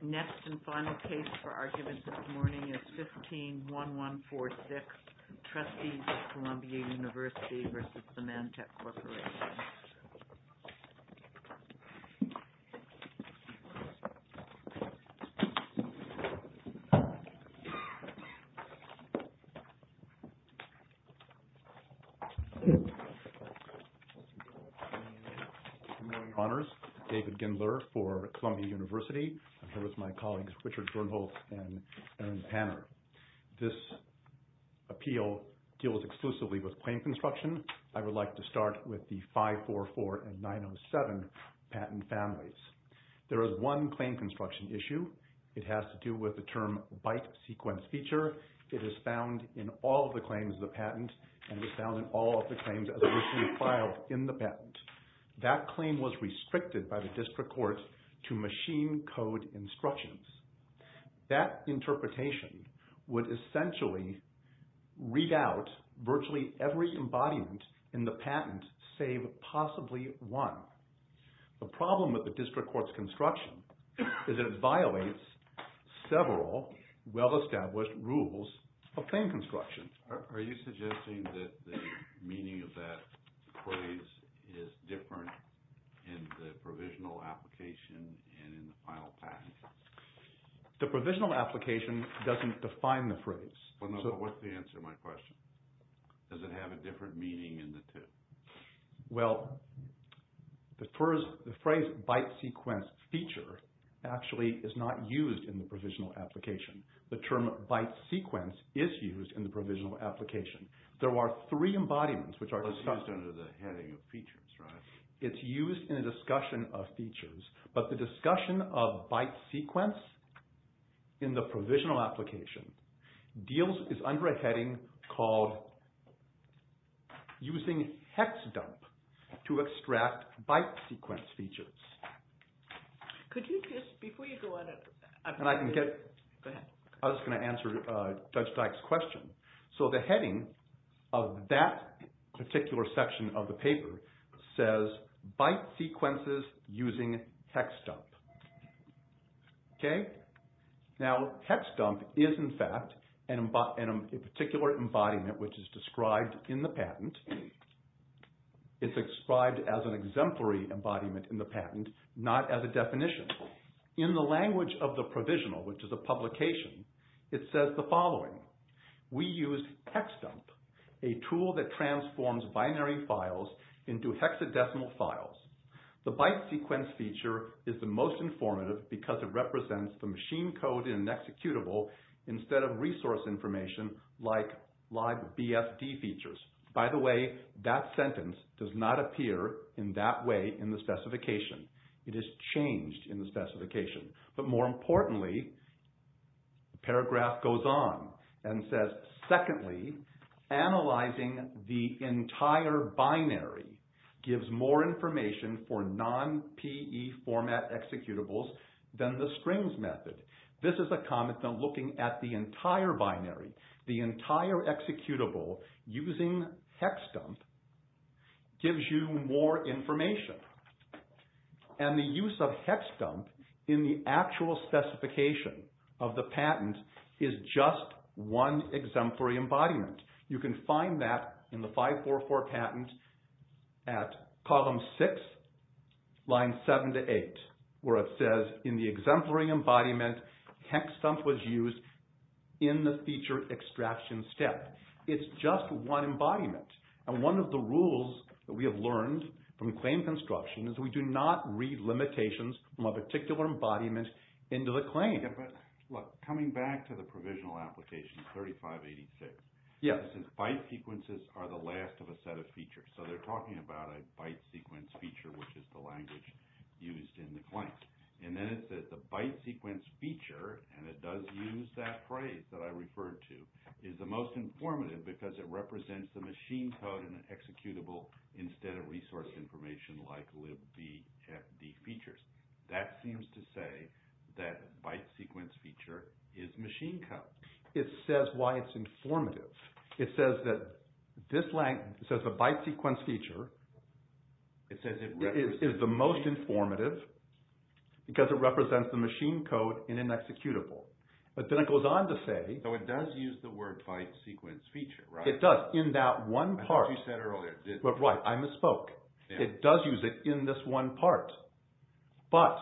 Next and final case for argument this morning is 15-1146, Trustees of Columbia Univ. v. Symantec Corporation David Gindler for Columbia Univ. Here with my colleagues Richard Gornholtz and Erin Tanner. This appeal deals exclusively with claim construction. I would like to start with the 544 and 907 patent families. There is one claim construction issue. It has to do with the term byte sequence feature. It is found in all of the claims of the patent and was found in all of the claims as it was to be filed in the patent. That claim was restricted by the district court to machine code instructions. That interpretation would essentially read out virtually every embodiment in the patent save possibly one. The problem with the district court's construction is it violates several well-established rules of claim construction. Are you suggesting that the meaning of that phrase is different in the provisional application and in the final patent? The provisional application doesn't define the phrase. What's the answer to my question? Does it have a different meaning in the two? Well, the phrase byte sequence feature actually is not used in the provisional application. The term byte sequence is used in the provisional application. There are three embodiments which are discussed. It's used under the heading of features, right? It's used in a discussion of features, but the discussion of byte sequence in the provisional application is under a heading called using hex dump to extract byte sequence features. I was going to answer Judge Dyke's question. The heading of that particular section of the paper says byte sequences using hex dump. Now hex dump is in fact a particular embodiment which is described in the patent. It's described as an exemplary embodiment in the patent, not as a definition. In the language of the provisional, which is a publication, it says the following. We use hex dump, a tool that transforms binary files into hexadecimal files. The byte sequence feature is the most informative because it represents the machine code in an executable instead of resource information like live BFD features. By the way, that sentence does not appear in that way in the specification. It is changed in the specification, but more importantly, the paragraph goes on and says, Secondly, analyzing the entire binary gives more information for non-PE format executables than the strings method. This is a comment on looking at the entire binary. The entire executable using hex dump gives you more information. And the use of hex dump in the actual specification of the patent is just one exemplary embodiment. You can find that in the 544 patent at column 6, line 7 to 8 where it says, In the exemplary embodiment, hex dump was used in the feature extraction step. It's just one embodiment. And one of the rules that we have learned from claim construction is we do not read limitations from a particular embodiment into the claim. Look, coming back to the provisional application 3586. It says byte sequences are the last of a set of features. So they're talking about a byte sequence feature, which is the language used in the claims. And then it says the byte sequence feature, and it does use that phrase that I referred to, is the most informative because it represents the machine code in an executable instead of resource information like live BFD features. That seems to say that byte sequence feature is machine code. It says why it's informative. It says that this line says the byte sequence feature is the most informative because it represents the machine code in an executable. But then it goes on to say – So it does use the word byte sequence feature, right? It does in that one part. I thought you said earlier. Right. I misspoke. It does use it in this one part. But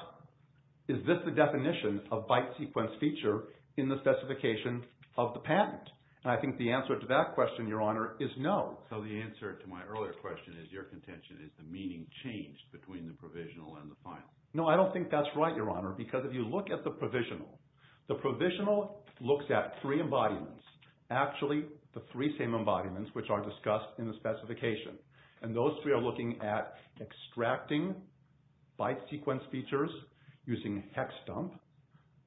is this the definition of byte sequence feature in the specification of the patent? And I think the answer to that question, Your Honor, is no. So the answer to my earlier question is your contention is the meaning changed between the provisional and the final. No, I don't think that's right, Your Honor, because if you look at the provisional, the provisional looks at three embodiments. Actually, the three same embodiments, which are discussed in the specification. And those three are looking at extracting byte sequence features using hex dump.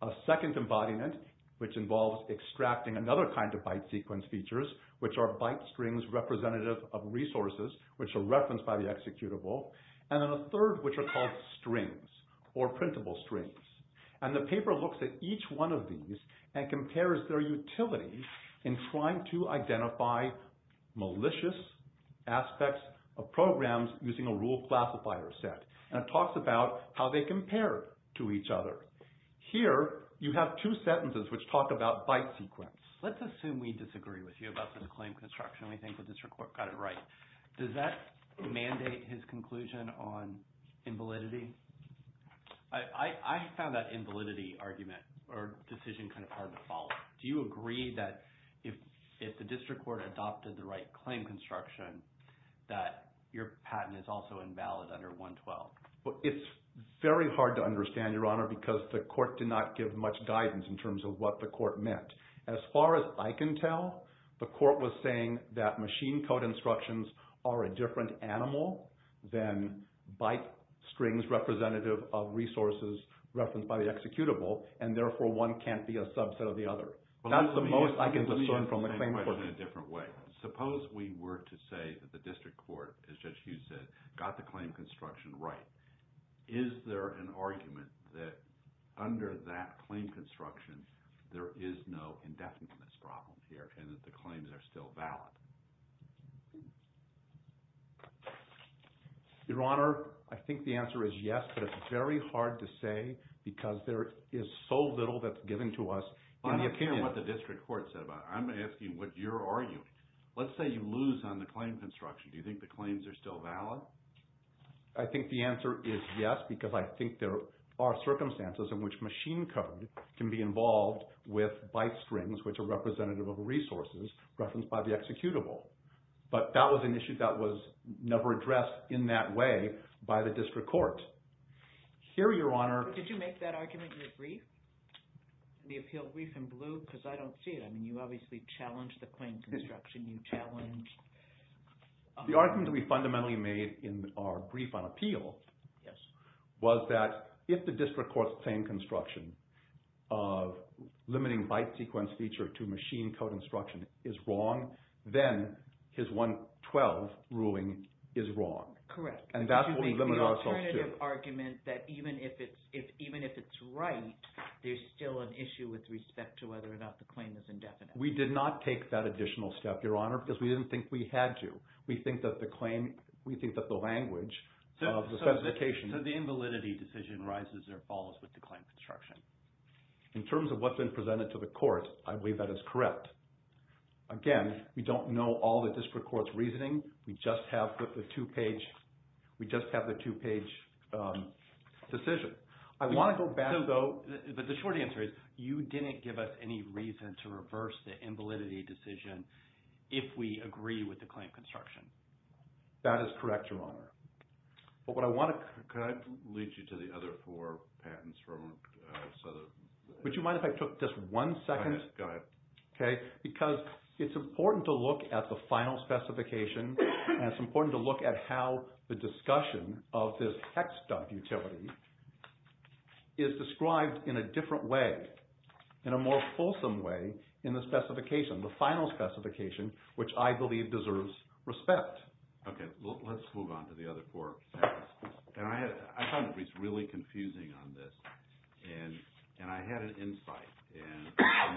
A second embodiment, which involves extracting another kind of byte sequence features, which are byte strings representative of resources, which are referenced by the executable. And then a third, which are called strings or printable strings. And the paper looks at each one of these and compares their utility in trying to identify malicious aspects of programs using a rule classifier set. And it talks about how they compare to each other. Here, you have two sentences which talk about byte sequence. Let's assume we disagree with you about this claim construction. We think the district court got it right. Does that mandate his conclusion on invalidity? I found that invalidity argument or decision kind of hard to follow. Do you agree that if the district court adopted the right claim construction that your patent is also invalid under 112? It's very hard to understand, Your Honor, because the court did not give much guidance in terms of what the court meant. As far as I can tell, the court was saying that machine code instructions are a different animal than byte strings representative of resources referenced by the executable. And therefore, one can't be a subset of the other. That's the most I can discern from the claim court. Suppose we were to say that the district court, as Judge Hughes said, got the claim construction right. Is there an argument that under that claim construction, there is no indefiniteness problem here and that the claims are still valid? Your Honor, I think the answer is yes, but it's very hard to say because there is so little that's given to us. Well, I'm not hearing what the district court said about it. I'm asking what you're arguing. Let's say you lose on the claim construction. Do you think the claims are still valid? I think the answer is yes because I think there are circumstances in which machine code can be involved with byte strings, which are representative of resources referenced by the executable. But that was an issue that was never addressed in that way by the district court. Here, Your Honor— Did you make that argument in the brief, the appeal brief in blue? Because I don't see it. I mean, you obviously challenged the claims construction. You challenged— The argument that we fundamentally made in our brief on appeal was that if the district court's claim construction of limiting byte sequence feature to machine code instruction is wrong, then his 112 ruling is wrong. Correct. And that's what we limit ourselves to. Did you make the alternative argument that even if it's right, there's still an issue with respect to whether or not the claim is indefinite? We did not take that additional step, Your Honor, because we didn't think we had to. We think that the language of the specification— So the invalidity decision rises or falls with the claim construction? In terms of what's been presented to the court, I believe that is correct. Again, we don't know all the district court's reasoning. We just have the two-page decision. But the short answer is you didn't give us any reason to reverse the invalidity decision if we agree with the claim construction. That is correct, Your Honor. But what I want to— Can I lead you to the other four patents from Southern? Would you mind if I took just one second? Go ahead. Because it's important to look at the final specification, and it's important to look at how the discussion of this hex dump utility is described in a different way, in a more fulsome way, in the specification, the final specification, which I believe deserves respect. Okay, let's move on to the other four patents. I found it really confusing on this, and I had an insight, and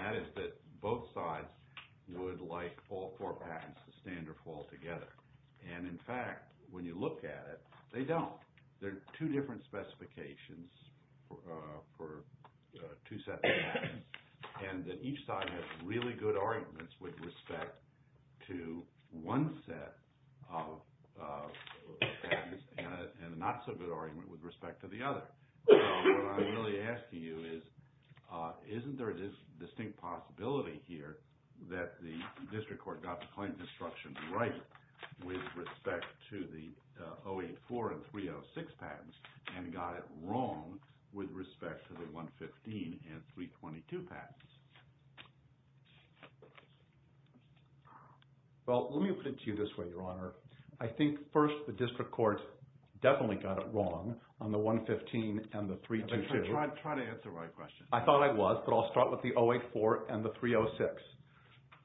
that is that both sides would like all four patents to stand or fall together. And, in fact, when you look at it, they don't. There are two different specifications for two sets of patents, and each side has really good arguments with respect to one set of patents and a not-so-good argument with respect to the other. So what I'm really asking you is, isn't there a distinct possibility here that the district court got the claim construction right with respect to the 084 and 306 patents and got it wrong with respect to the 115 and 322 patents? Well, let me put it to you this way, Your Honor. I think, first, the district court definitely got it wrong on the 115 and the 322. Try to answer my question. I thought I was, but I'll start with the 084 and the 306.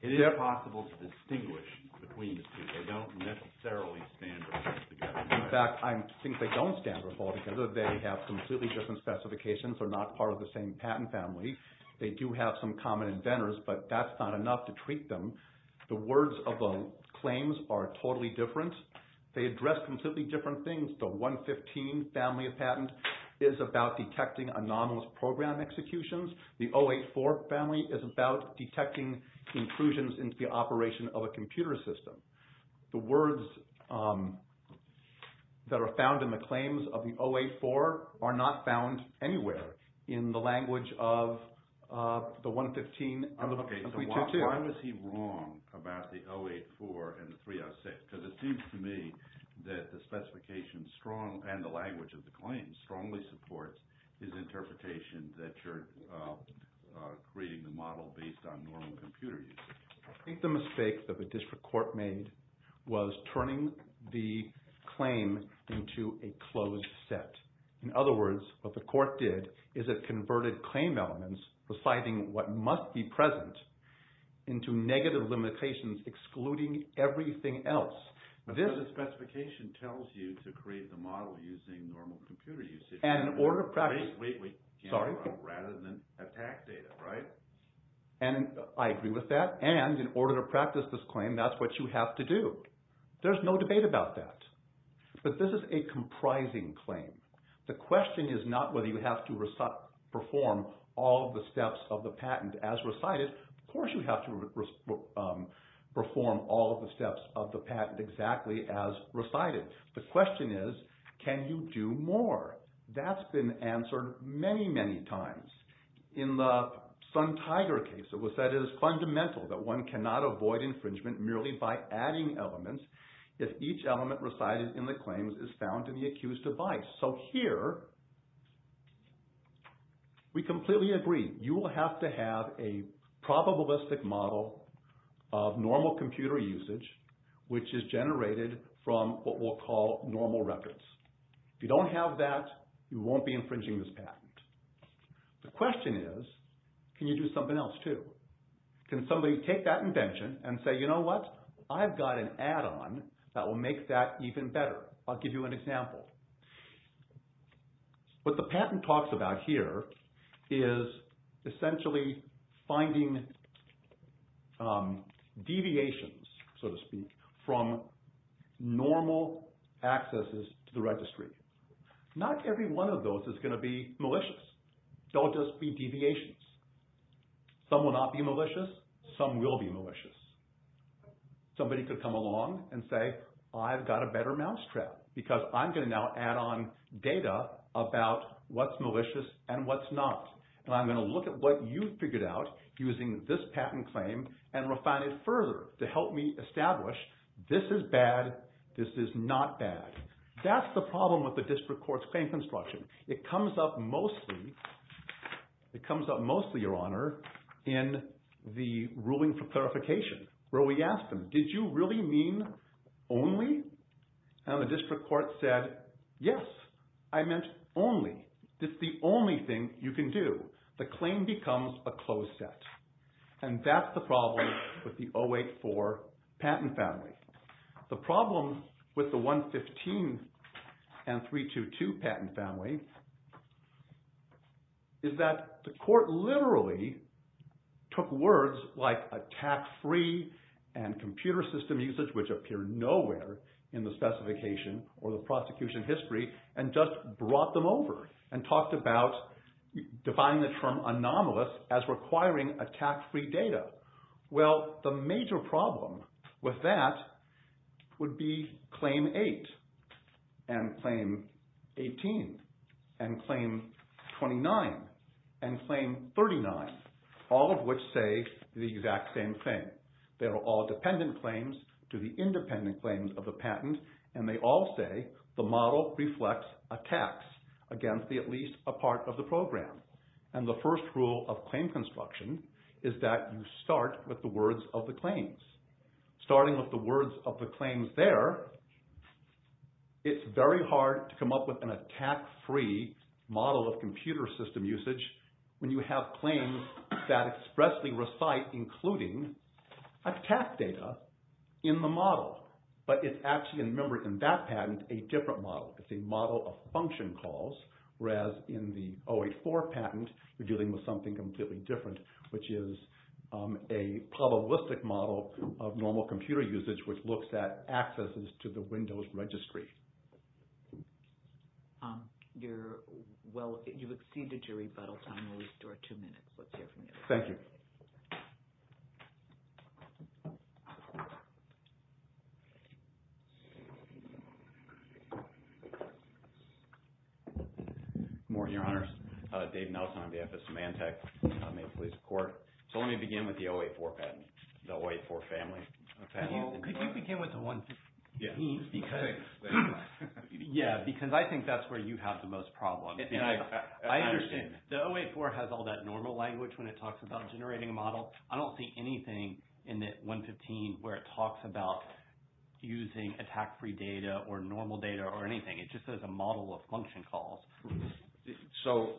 It is possible to distinguish between the two. They don't necessarily stand or fall together. In fact, I think they don't stand or fall together. They have completely different specifications. They're not part of the same patent family. They do have some common inventors, but that's not enough to treat them. The words of the claims are totally different. They address completely different things. The 115 family of patent is about detecting anomalous program executions. The 084 family is about detecting intrusions into the operation of a computer system. The words that are found in the claims of the 084 are not found anywhere in the language of the 115 and the 322. Okay, so why was he wrong about the 084 and the 306? Because it seems to me that the specification and the language of the claims strongly supports his interpretation that you're creating the model based on normal computer usage. I think the mistake that the district court made was turning the claim into a closed set. In other words, what the court did is it converted claim elements presiding what must be present into negative limitations excluding everything else. Because the specification tells you to create the model using normal computer usage. And in order to practice – Wait, wait, wait. Sorry? Rather than attack data, right? And I agree with that. And in order to practice this claim, that's what you have to do. There's no debate about that. But this is a comprising claim. The question is not whether you have to perform all of the steps of the patent as recited. Of course, you have to perform all of the steps of the patent exactly as recited. The question is can you do more? That's been answered many, many times. In the Sun-Tiger case, it was said it is fundamental that one cannot avoid infringement merely by adding elements if each element recited in the claims is found in the accused device. So here, we completely agree. You will have to have a probabilistic model of normal computer usage which is generated from what we'll call normal records. If you don't have that, you won't be infringing this patent. The question is can you do something else, too? Can somebody take that invention and say, you know what? I've got an add-on that will make that even better. I'll give you an example. What the patent talks about here is essentially finding deviations, so to speak, from normal accesses to the registry. Not every one of those is going to be malicious. They'll just be deviations. Some will not be malicious. Some will be malicious. Somebody could come along and say, I've got a better mousetrap because I'm going to now add on data about what's malicious and what's not. And I'm going to look at what you've figured out using this patent claim and refine it further to help me establish this is bad, this is not bad. That's the problem with the district court's claim construction. It comes up mostly, Your Honor, in the ruling for clarification where we asked them, did you really mean only? And the district court said, yes, I meant only. It's the only thing you can do. The claim becomes a closed set. And that's the problem with the 084 patent family. The problem with the 115 and 322 patent family is that the court literally took words like attack-free and computer system usage, which appear nowhere in the specification or the prosecution history, and just brought them over and talked about defining the term anomalous as requiring attack-free data. Well, the major problem with that would be Claim 8 and Claim 18 and Claim 29 and Claim 39, all of which say the exact same thing. They're all dependent claims to the independent claims of the patent. And they all say the model reflects attacks against at least a part of the program. And the first rule of claim construction is that you start with the words of the claims. Starting with the words of the claims there, it's very hard to come up with an attack-free model of computer system usage when you have claims that expressly recite including attack data in the model. But it's actually, remember, in that patent, a different model. It's a model of function calls, whereas in the 084 patent, you're dealing with something completely different, which is a probabilistic model of normal computer usage, which looks at accesses to the Windows registry. You've exceeded your rebuttal time. We'll restore two minutes. Let's hear from you. Thank you. Good morning, Your Honors. Dave Nelson on behalf of Symantec. May it please the Court. So let me begin with the 084 patent, the 084 family. Could you begin with the 115? Yeah, because I think that's where you have the most problems. I understand. The 084 has all that normal language when it talks about generating a model. I don't see anything in the 115 where it talks about using attack-free data or normal data or anything. It just says a model of function calls. So,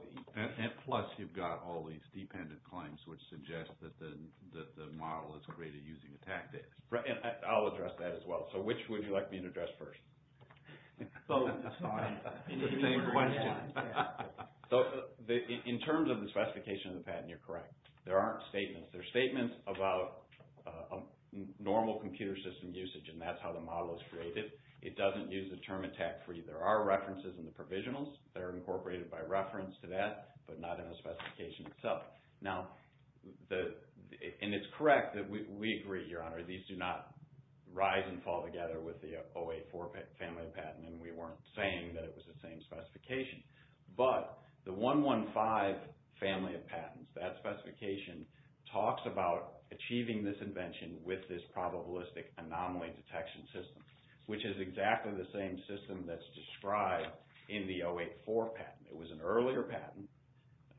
plus you've got all these dependent claims, which suggest that the model is created using attack data. I'll address that as well. So which would you like being addressed first? Both. It's fine. It's the same question. So in terms of the specification of the patent, you're correct. There aren't statements. There are statements about normal computer system usage, and that's how the model is created. It doesn't use the term attack-free. There are references in the provisionals. They're incorporated by reference to that, but not in the specification itself. Now, and it's correct that we agree, Your Honor, these do not rise and fall together with the 084 family patent, and we weren't saying that it was the same specification, but the 115 family of patents, that specification talks about achieving this invention with this probabilistic anomaly detection system, which is exactly the same system that's described in the 084 patent. It was an earlier patent.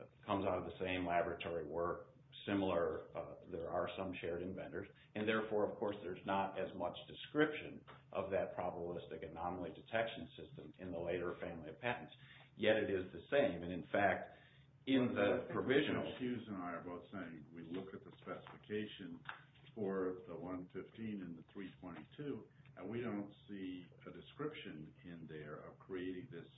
It comes out of the same laboratory work, similar. There are some shared inventors, and therefore, of course, there's not as much description of that probabilistic anomaly detection system in the later family of patents, yet it is the same. And, in fact, in the provisional— Judge Hughes and I are both saying we look at the specification for the 115 and the 322, and we don't see a description in there of creating this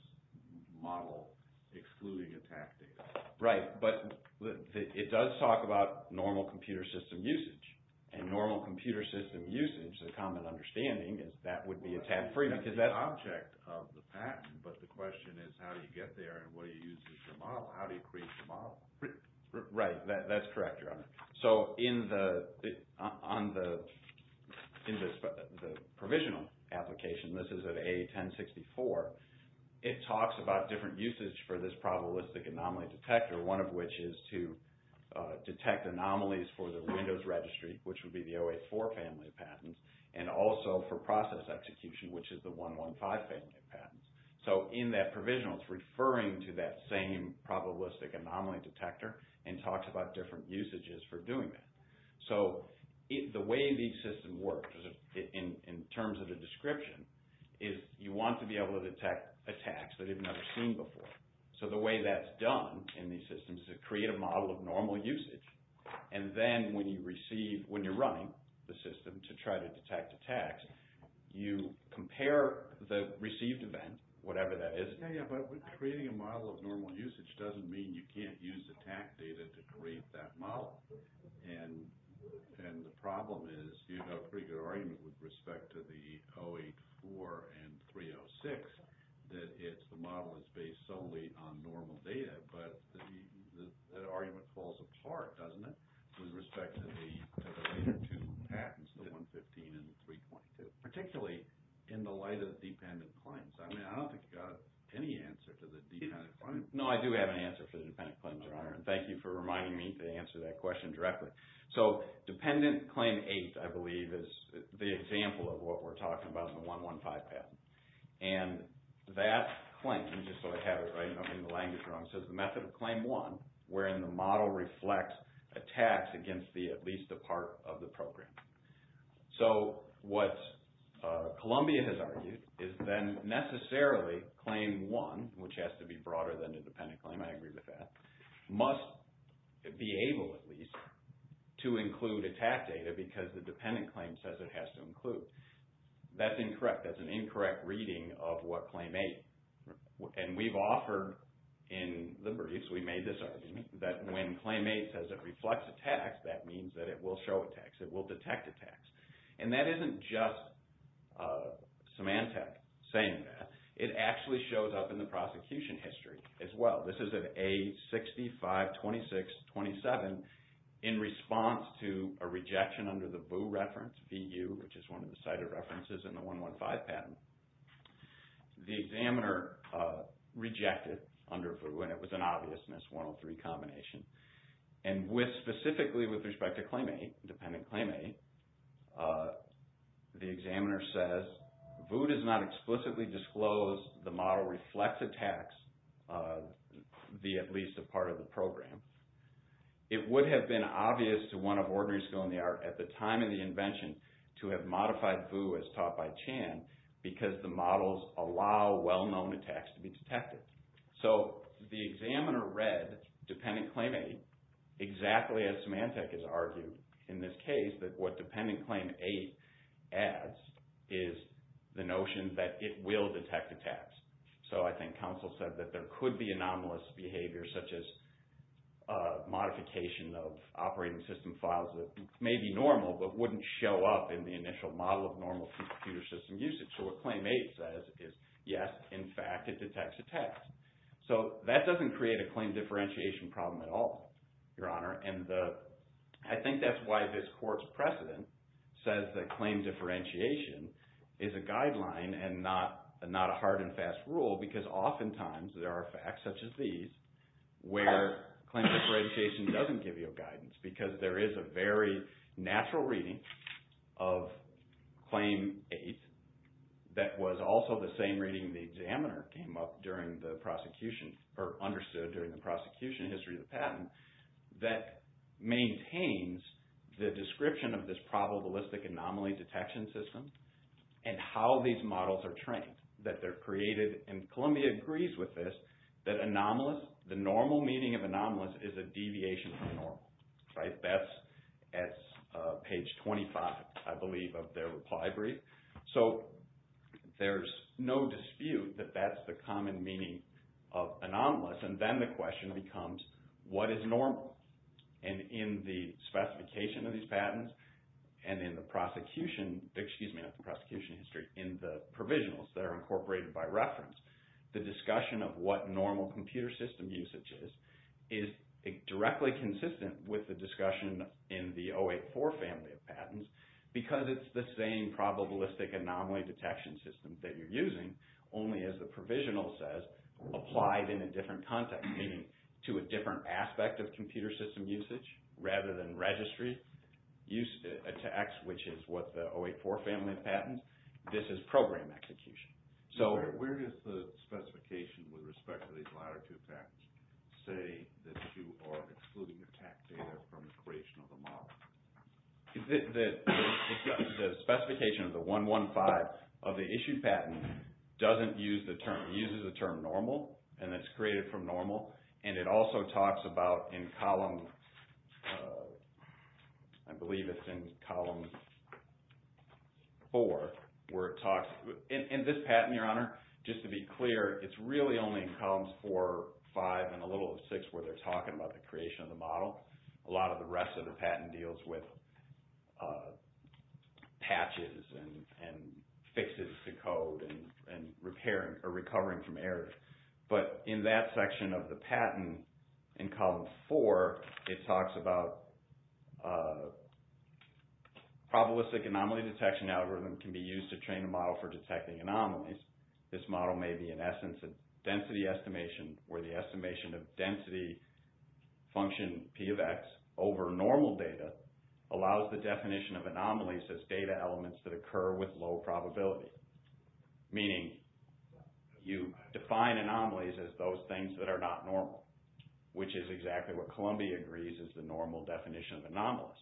model excluding attack data. Right, but it does talk about normal computer system usage, and normal computer system usage, the common understanding is that would be attack-free because that's— Well, that's the object of the patent, but the question is how do you get there and what do you use as your model? How do you create your model? Right, that's correct, Your Honor. So, in the provisional application, this is at A1064, it talks about different usage for this probabilistic anomaly detector, one of which is to detect anomalies for the Windows registry, which would be the 084 family of patents, and also for process execution, which is the 115 family of patents. So, in that provisional, it's referring to that same probabilistic anomaly detector and talks about different usages for doing that. So, the way these systems work, in terms of the description, is you want to be able to detect attacks that you've never seen before. So, the way that's done in these systems is to create a model of normal usage, and then when you receive—when you're running the system to try to detect attacks, you compare the received event, whatever that is— Yeah, yeah, but creating a model of normal usage doesn't mean you can't use attack data to create that model, and the problem is you have a pretty good argument with respect to the 084 and 306 that the model is based solely on normal data, but that argument falls apart, doesn't it, with respect to the later two patents, the 115 and 322, particularly in the light of dependent claims. I mean, I don't think you've got any answer to the dependent claims. No, I do have an answer for the dependent claims, Your Honor, and thank you for reminding me to answer that question directly. So, Dependent Claim 8, I believe, is the example of what we're talking about in the 115 patent, and that claim—just so I have it in the language, Your Honor— says the method of Claim 1, wherein the model reflects attacks against at least a part of the program. So, what Columbia has argued is then necessarily Claim 1, which has to be broader than the dependent claim—I agree with that— must be able, at least, to include attack data because the dependent claim says it has to include. That's incorrect. That's an incorrect reading of what Claim 8. And we've offered in the briefs—we made this argument— that when Claim 8 says it reflects attacks, that means that it will show attacks. It will detect attacks. And that isn't just Symantec saying that. It actually shows up in the prosecution history as well. This is at A652627 in response to a rejection under the VU reference, V-U, which is one of the cited references in the 115 patent. The examiner rejected under VU, and it was an obvious mis-103 combination. And specifically with respect to Claim 8, Dependent Claim 8, the examiner says VU does not explicitly disclose the model reflects attacks, via at least a part of the program. It would have been obvious to one of ordinary school in the art at the time of the invention to have modified VU as taught by Chan because the models allow well-known attacks to be detected. So, the examiner read Dependent Claim 8 exactly as Symantec has argued in this case, that what Dependent Claim 8 adds is the notion that it will detect attacks. So, I think counsel said that there could be anomalous behavior, such as modification of operating system files that may be normal, but wouldn't show up in the initial model of normal computer system usage. So, what Claim 8 says is, yes, in fact, it detects attacks. So, that doesn't create a claim differentiation problem at all, Your Honor. I think that's why this court's precedent says that claim differentiation is a guideline and not a hard and fast rule because oftentimes there are facts such as these where claim differentiation doesn't give you guidance because there is a very natural reading of Claim 8 that was also the same reading the examiner came up during the prosecution that maintains the description of this probabilistic anomaly detection system and how these models are trained, that they're created. And Columbia agrees with this, that anomalous, the normal meaning of anomalous is a deviation from normal. That's at page 25, I believe, of their reply brief. So, there's no dispute that that's the common meaning of anomalous. And then the question becomes, what is normal? And in the specification of these patents and in the prosecution, excuse me, not the prosecution history, in the provisionals that are incorporated by reference, the discussion of what normal computer system usage is, is directly consistent with the discussion in the 084 family of patents because it's the same probabilistic anomaly detection system that you're using, only as the provisional says, applied in a different context, meaning to a different aspect of computer system usage rather than registry, used to X, which is what the 084 family of patents. This is program execution. So, where does the specification with respect to these latter two patents say that you are excluding the TAC data from the creation of the model? The specification of the 115 of the issued patent doesn't use the term, uses the term normal, and it's created from normal. And it also talks about in column, I believe it's in column 4, where it talks, in this patent, Your Honor, just to be clear, it's really only in columns 4, 5, and a little of 6 where they're talking about the creation of the model. A lot of the rest of the patent deals with patches and fixes to code and repairing or recovering from errors. But in that section of the patent, in column 4, it talks about probabilistic anomaly detection algorithm can be used to train a model for detecting anomalies. This model may be, in essence, a density estimation where the estimation of density function P of X over normal data allows the definition of anomalies as data elements that occur with low probability. Meaning, you define anomalies as those things that are not normal, which is exactly what Columbia agrees is the normal definition of anomalous.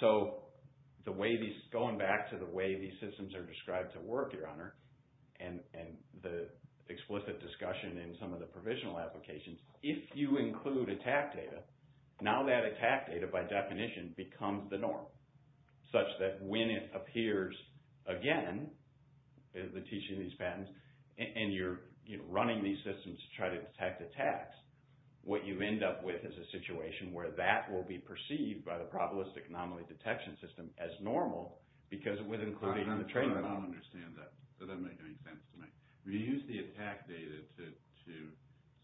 So, going back to the way these systems are described to work, Your Honor, and the explicit discussion in some of the provisional applications, if you include attack data, now that attack data, by definition, becomes the norm. Such that when it appears again, the teaching of these patents, and you're running these systems to try to detect attacks, what you end up with is a situation where that will be perceived by the probabilistic anomaly detection system as normal I don't understand that. That doesn't make any sense to me. You use the attack data to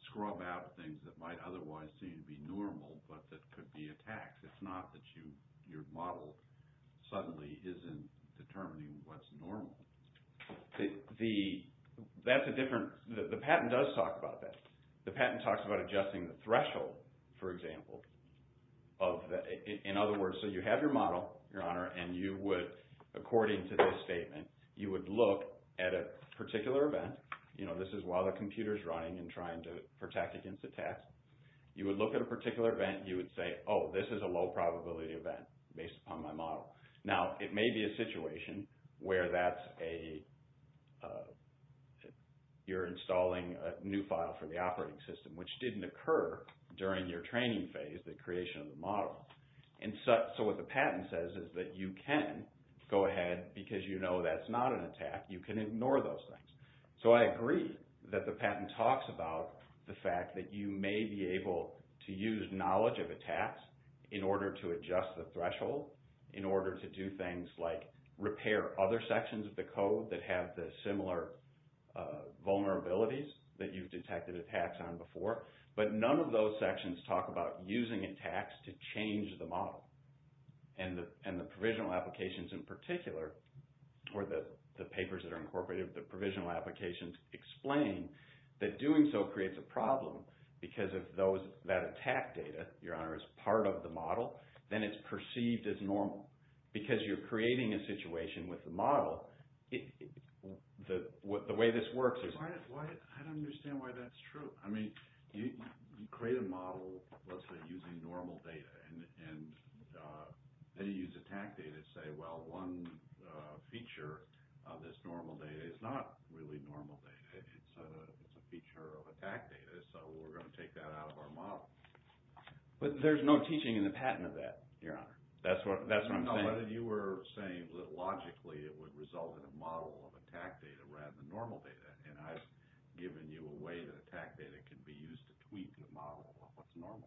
scrub out things that might otherwise seem to be normal, but that could be attacks. It's not that your model suddenly isn't determining what's normal. The patent does talk about that. The patent talks about adjusting the threshold, for example. In other words, so you have your model, Your Honor, and you would, according to this statement, you would look at a particular event. This is while the computer is running and trying to protect against attacks. You would look at a particular event. You would say, oh, this is a low probability event based on my model. Now, it may be a situation where that's a, you're installing a new file for the operating system, which didn't occur during your training phase, the creation of the model. And so what the patent says is that you can go ahead, because you know that's not an attack, you can ignore those things. So I agree that the patent talks about the fact that you may be able to use knowledge of attacks in order to adjust the threshold, in order to do things like repair other sections of the code that have the similar vulnerabilities that you've detected attacks on before. But none of those sections talk about using attacks to change the model. And the provisional applications in particular, or the papers that are incorporated with the provisional applications, explain that doing so creates a problem, because if that attack data, Your Honor, is part of the model, then it's perceived as normal. Because you're creating a situation with the model, the way this works is... I don't understand why that's true. I mean, you create a model, let's say, using normal data, and then you use attack data to say, well, one feature of this normal data is not really normal data. It's a feature of attack data, so we're going to take that out of our model. But there's no teaching in the patent of that, Your Honor. That's what I'm saying. But you were saying that, logically, it would result in a model of attack data rather than normal data. And I've given you a way that attack data can be used to tweak the model on what's normal.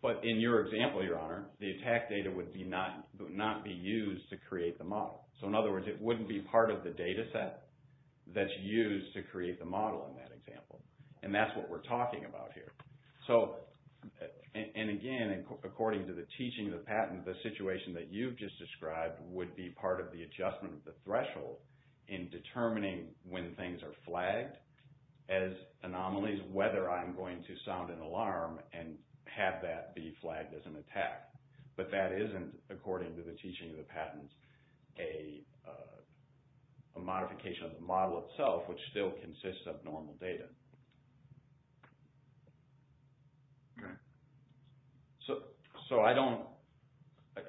But in your example, Your Honor, the attack data would not be used to create the model. So, in other words, it wouldn't be part of the data set that's used to create the model in that example. And that's what we're talking about here. So, and again, according to the teaching of the patent, the situation that you've just described would be part of the adjustment of the threshold in determining when things are flagged as anomalies, whether I'm going to sound an alarm and have that be flagged as an attack. But that isn't, according to the teaching of the patent, a modification of the model itself, which still consists of normal data. Okay. So, I don't...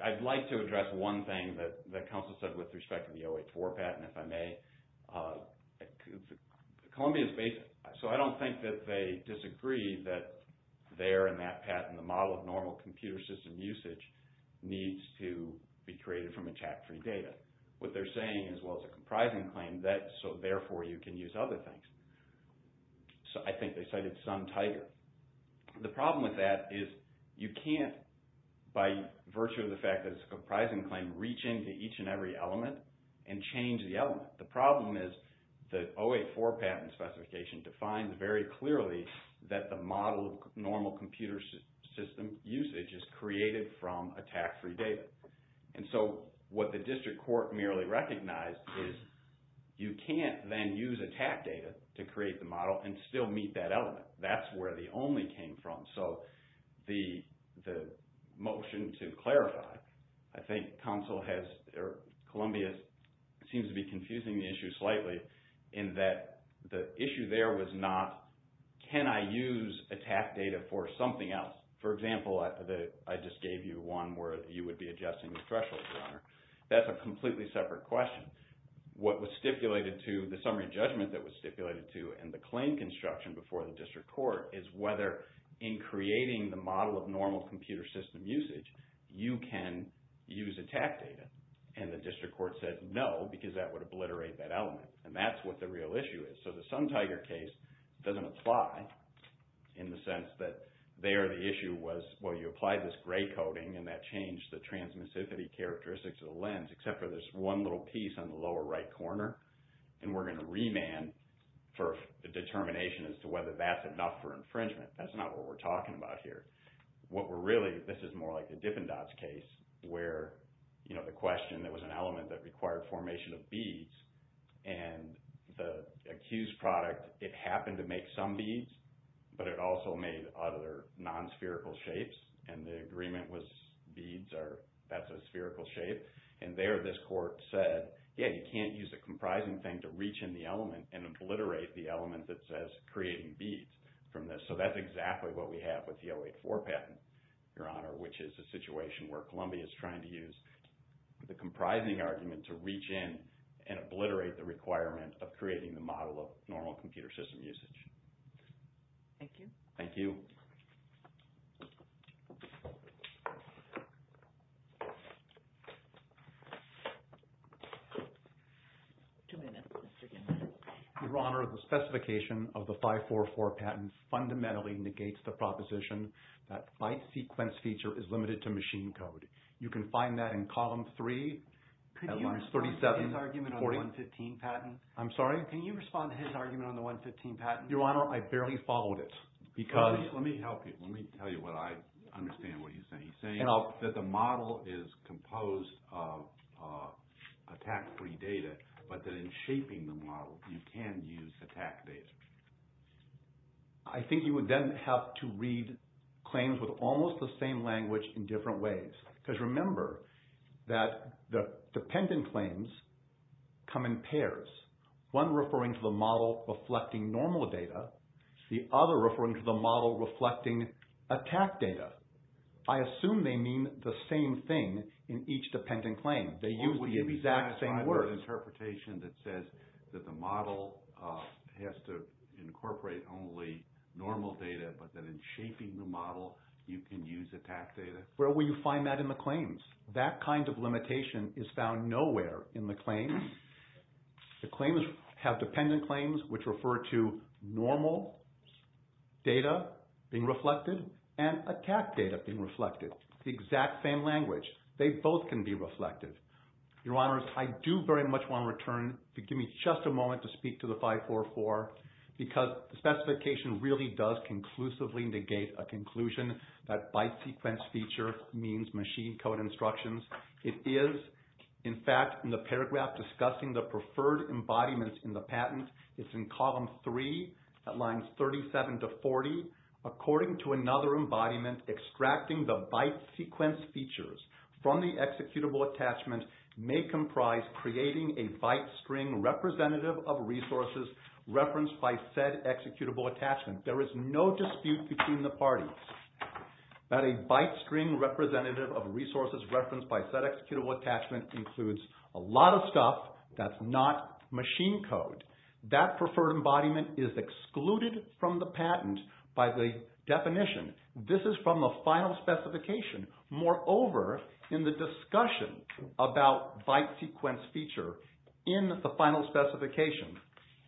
I'd like to address one thing that counsel said with respect to the 084 patent, if I may. Columbia's basic... So, I don't think that they disagree that there in that patent, the model of normal computer system usage needs to be created from attack-free data. What they're saying, as well as a comprising claim, that so, therefore, you can use other things. So, I think they cited Sun Tiger. The problem with that is you can't, by virtue of the fact that it's a comprising claim, reach into each and every element and change the element. The problem is the 084 patent specification defines very clearly that the model of normal computer system usage is created from attack-free data. And so, what the district court merely recognized is you can't then use attack data to create the model and still meet that element. That's where the only came from. So, the motion to clarify, I think counsel has... Columbia seems to be confusing the issue slightly in that the issue there was not, can I use attack data for something else? For example, I just gave you one where you would be adjusting the threshold runner. That's a completely separate question. What was stipulated to the summary judgment that was stipulated to and the claim construction before the district court is whether, in creating the model of normal computer system usage, you can use attack data. And the district court said no because that would obliterate that element. And that's what the real issue is. So, the Sun Tiger case doesn't apply in the sense that there the issue was, well, you applied this gray coding and that changed the transmissivity characteristics of the lens except for this one little piece on the lower right corner. And we're going to remand for the determination as to whether that's enough for infringement. That's not what we're talking about here. What we're really, this is more like the Dippin' Dots case where, you know, the question, there was an element that required formation of beads. And the accused product, it happened to make some beads, but it also made other non-spherical shapes. And the agreement was beads are, that's a spherical shape. And there this court said, yeah, you can't use a comprising thing to reach in the element and obliterate the element that says creating beads from this. So, that's exactly what we have with the 084 patent, Your Honor, which is a situation where Columbia is trying to use the comprising argument to reach in and obliterate the requirement of creating the model of normal computer system usage. Thank you. Thank you. Two minutes. Your Honor, the specification of the 544 patent fundamentally negates the proposition that byte sequence feature is limited to machine code. You can find that in Column 3. Could you respond to his argument on the 115 patent? I'm sorry? Can you respond to his argument on the 115 patent? Your Honor, I barely followed it because... Let me help you. Let me tell you what I understand what he's saying. He's saying that the model is composed of attack-free data but that in shaping the model, you can use attack data. I think you would then have to read claims with almost the same language in different ways because remember that the dependent claims come in pairs, one referring to the model reflecting normal data, the other referring to the model reflecting attack data. I assume they mean the same thing in each dependent claim. They use the exact same words. Would you be satisfied with an interpretation that says that the model has to incorporate only normal data but that in shaping the model, you can use attack data? Where will you find that in the claims? That kind of limitation is found nowhere in the claims. The claims have dependent claims which refer to normal data being reflected and attack data being reflected. It's the exact same language. They both can be reflected. Your Honors, I do very much want to return to give me just a moment to speak to the 544 because the specification really does conclusively negate a conclusion that byte sequence feature means machine code instructions. It is, in fact, in the paragraph discussing the preferred embodiments in the patent. It's in column 3 at lines 37 to 40. According to another embodiment, extracting the byte sequence features from the executable attachment may comprise creating a byte string representative of resources referenced by said executable attachment. There is no dispute between the parties that a byte string representative of resources referenced by said executable attachment includes a lot of stuff that's not machine code. That preferred embodiment is excluded from the patent by the definition. This is from the final specification. Moreover, in the discussion about byte sequence feature in the final specification,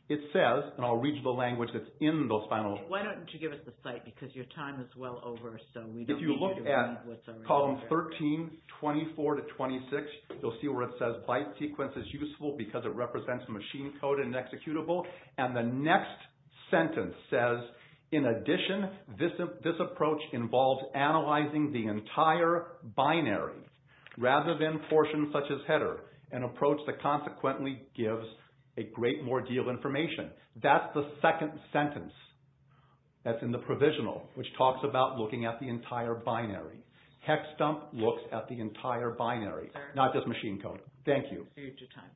it says, and I'll read you the language that's in those final. Why don't you give us the site because your time is well over so we don't need you to read what's already there. If you look at column 13, 24 to 26, you'll see where it says byte sequence is useful because it represents machine code and executable. And the next sentence says, in addition, this approach involves analyzing the entire binary rather than portions such as header, an approach that consequently gives a great more deal of information. That's the second sentence that's in the provisional which talks about looking at the entire binary. Hexdump looks at the entire binary, not just machine code. Thank you.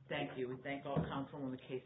Thank you. We thank all counsel on the case.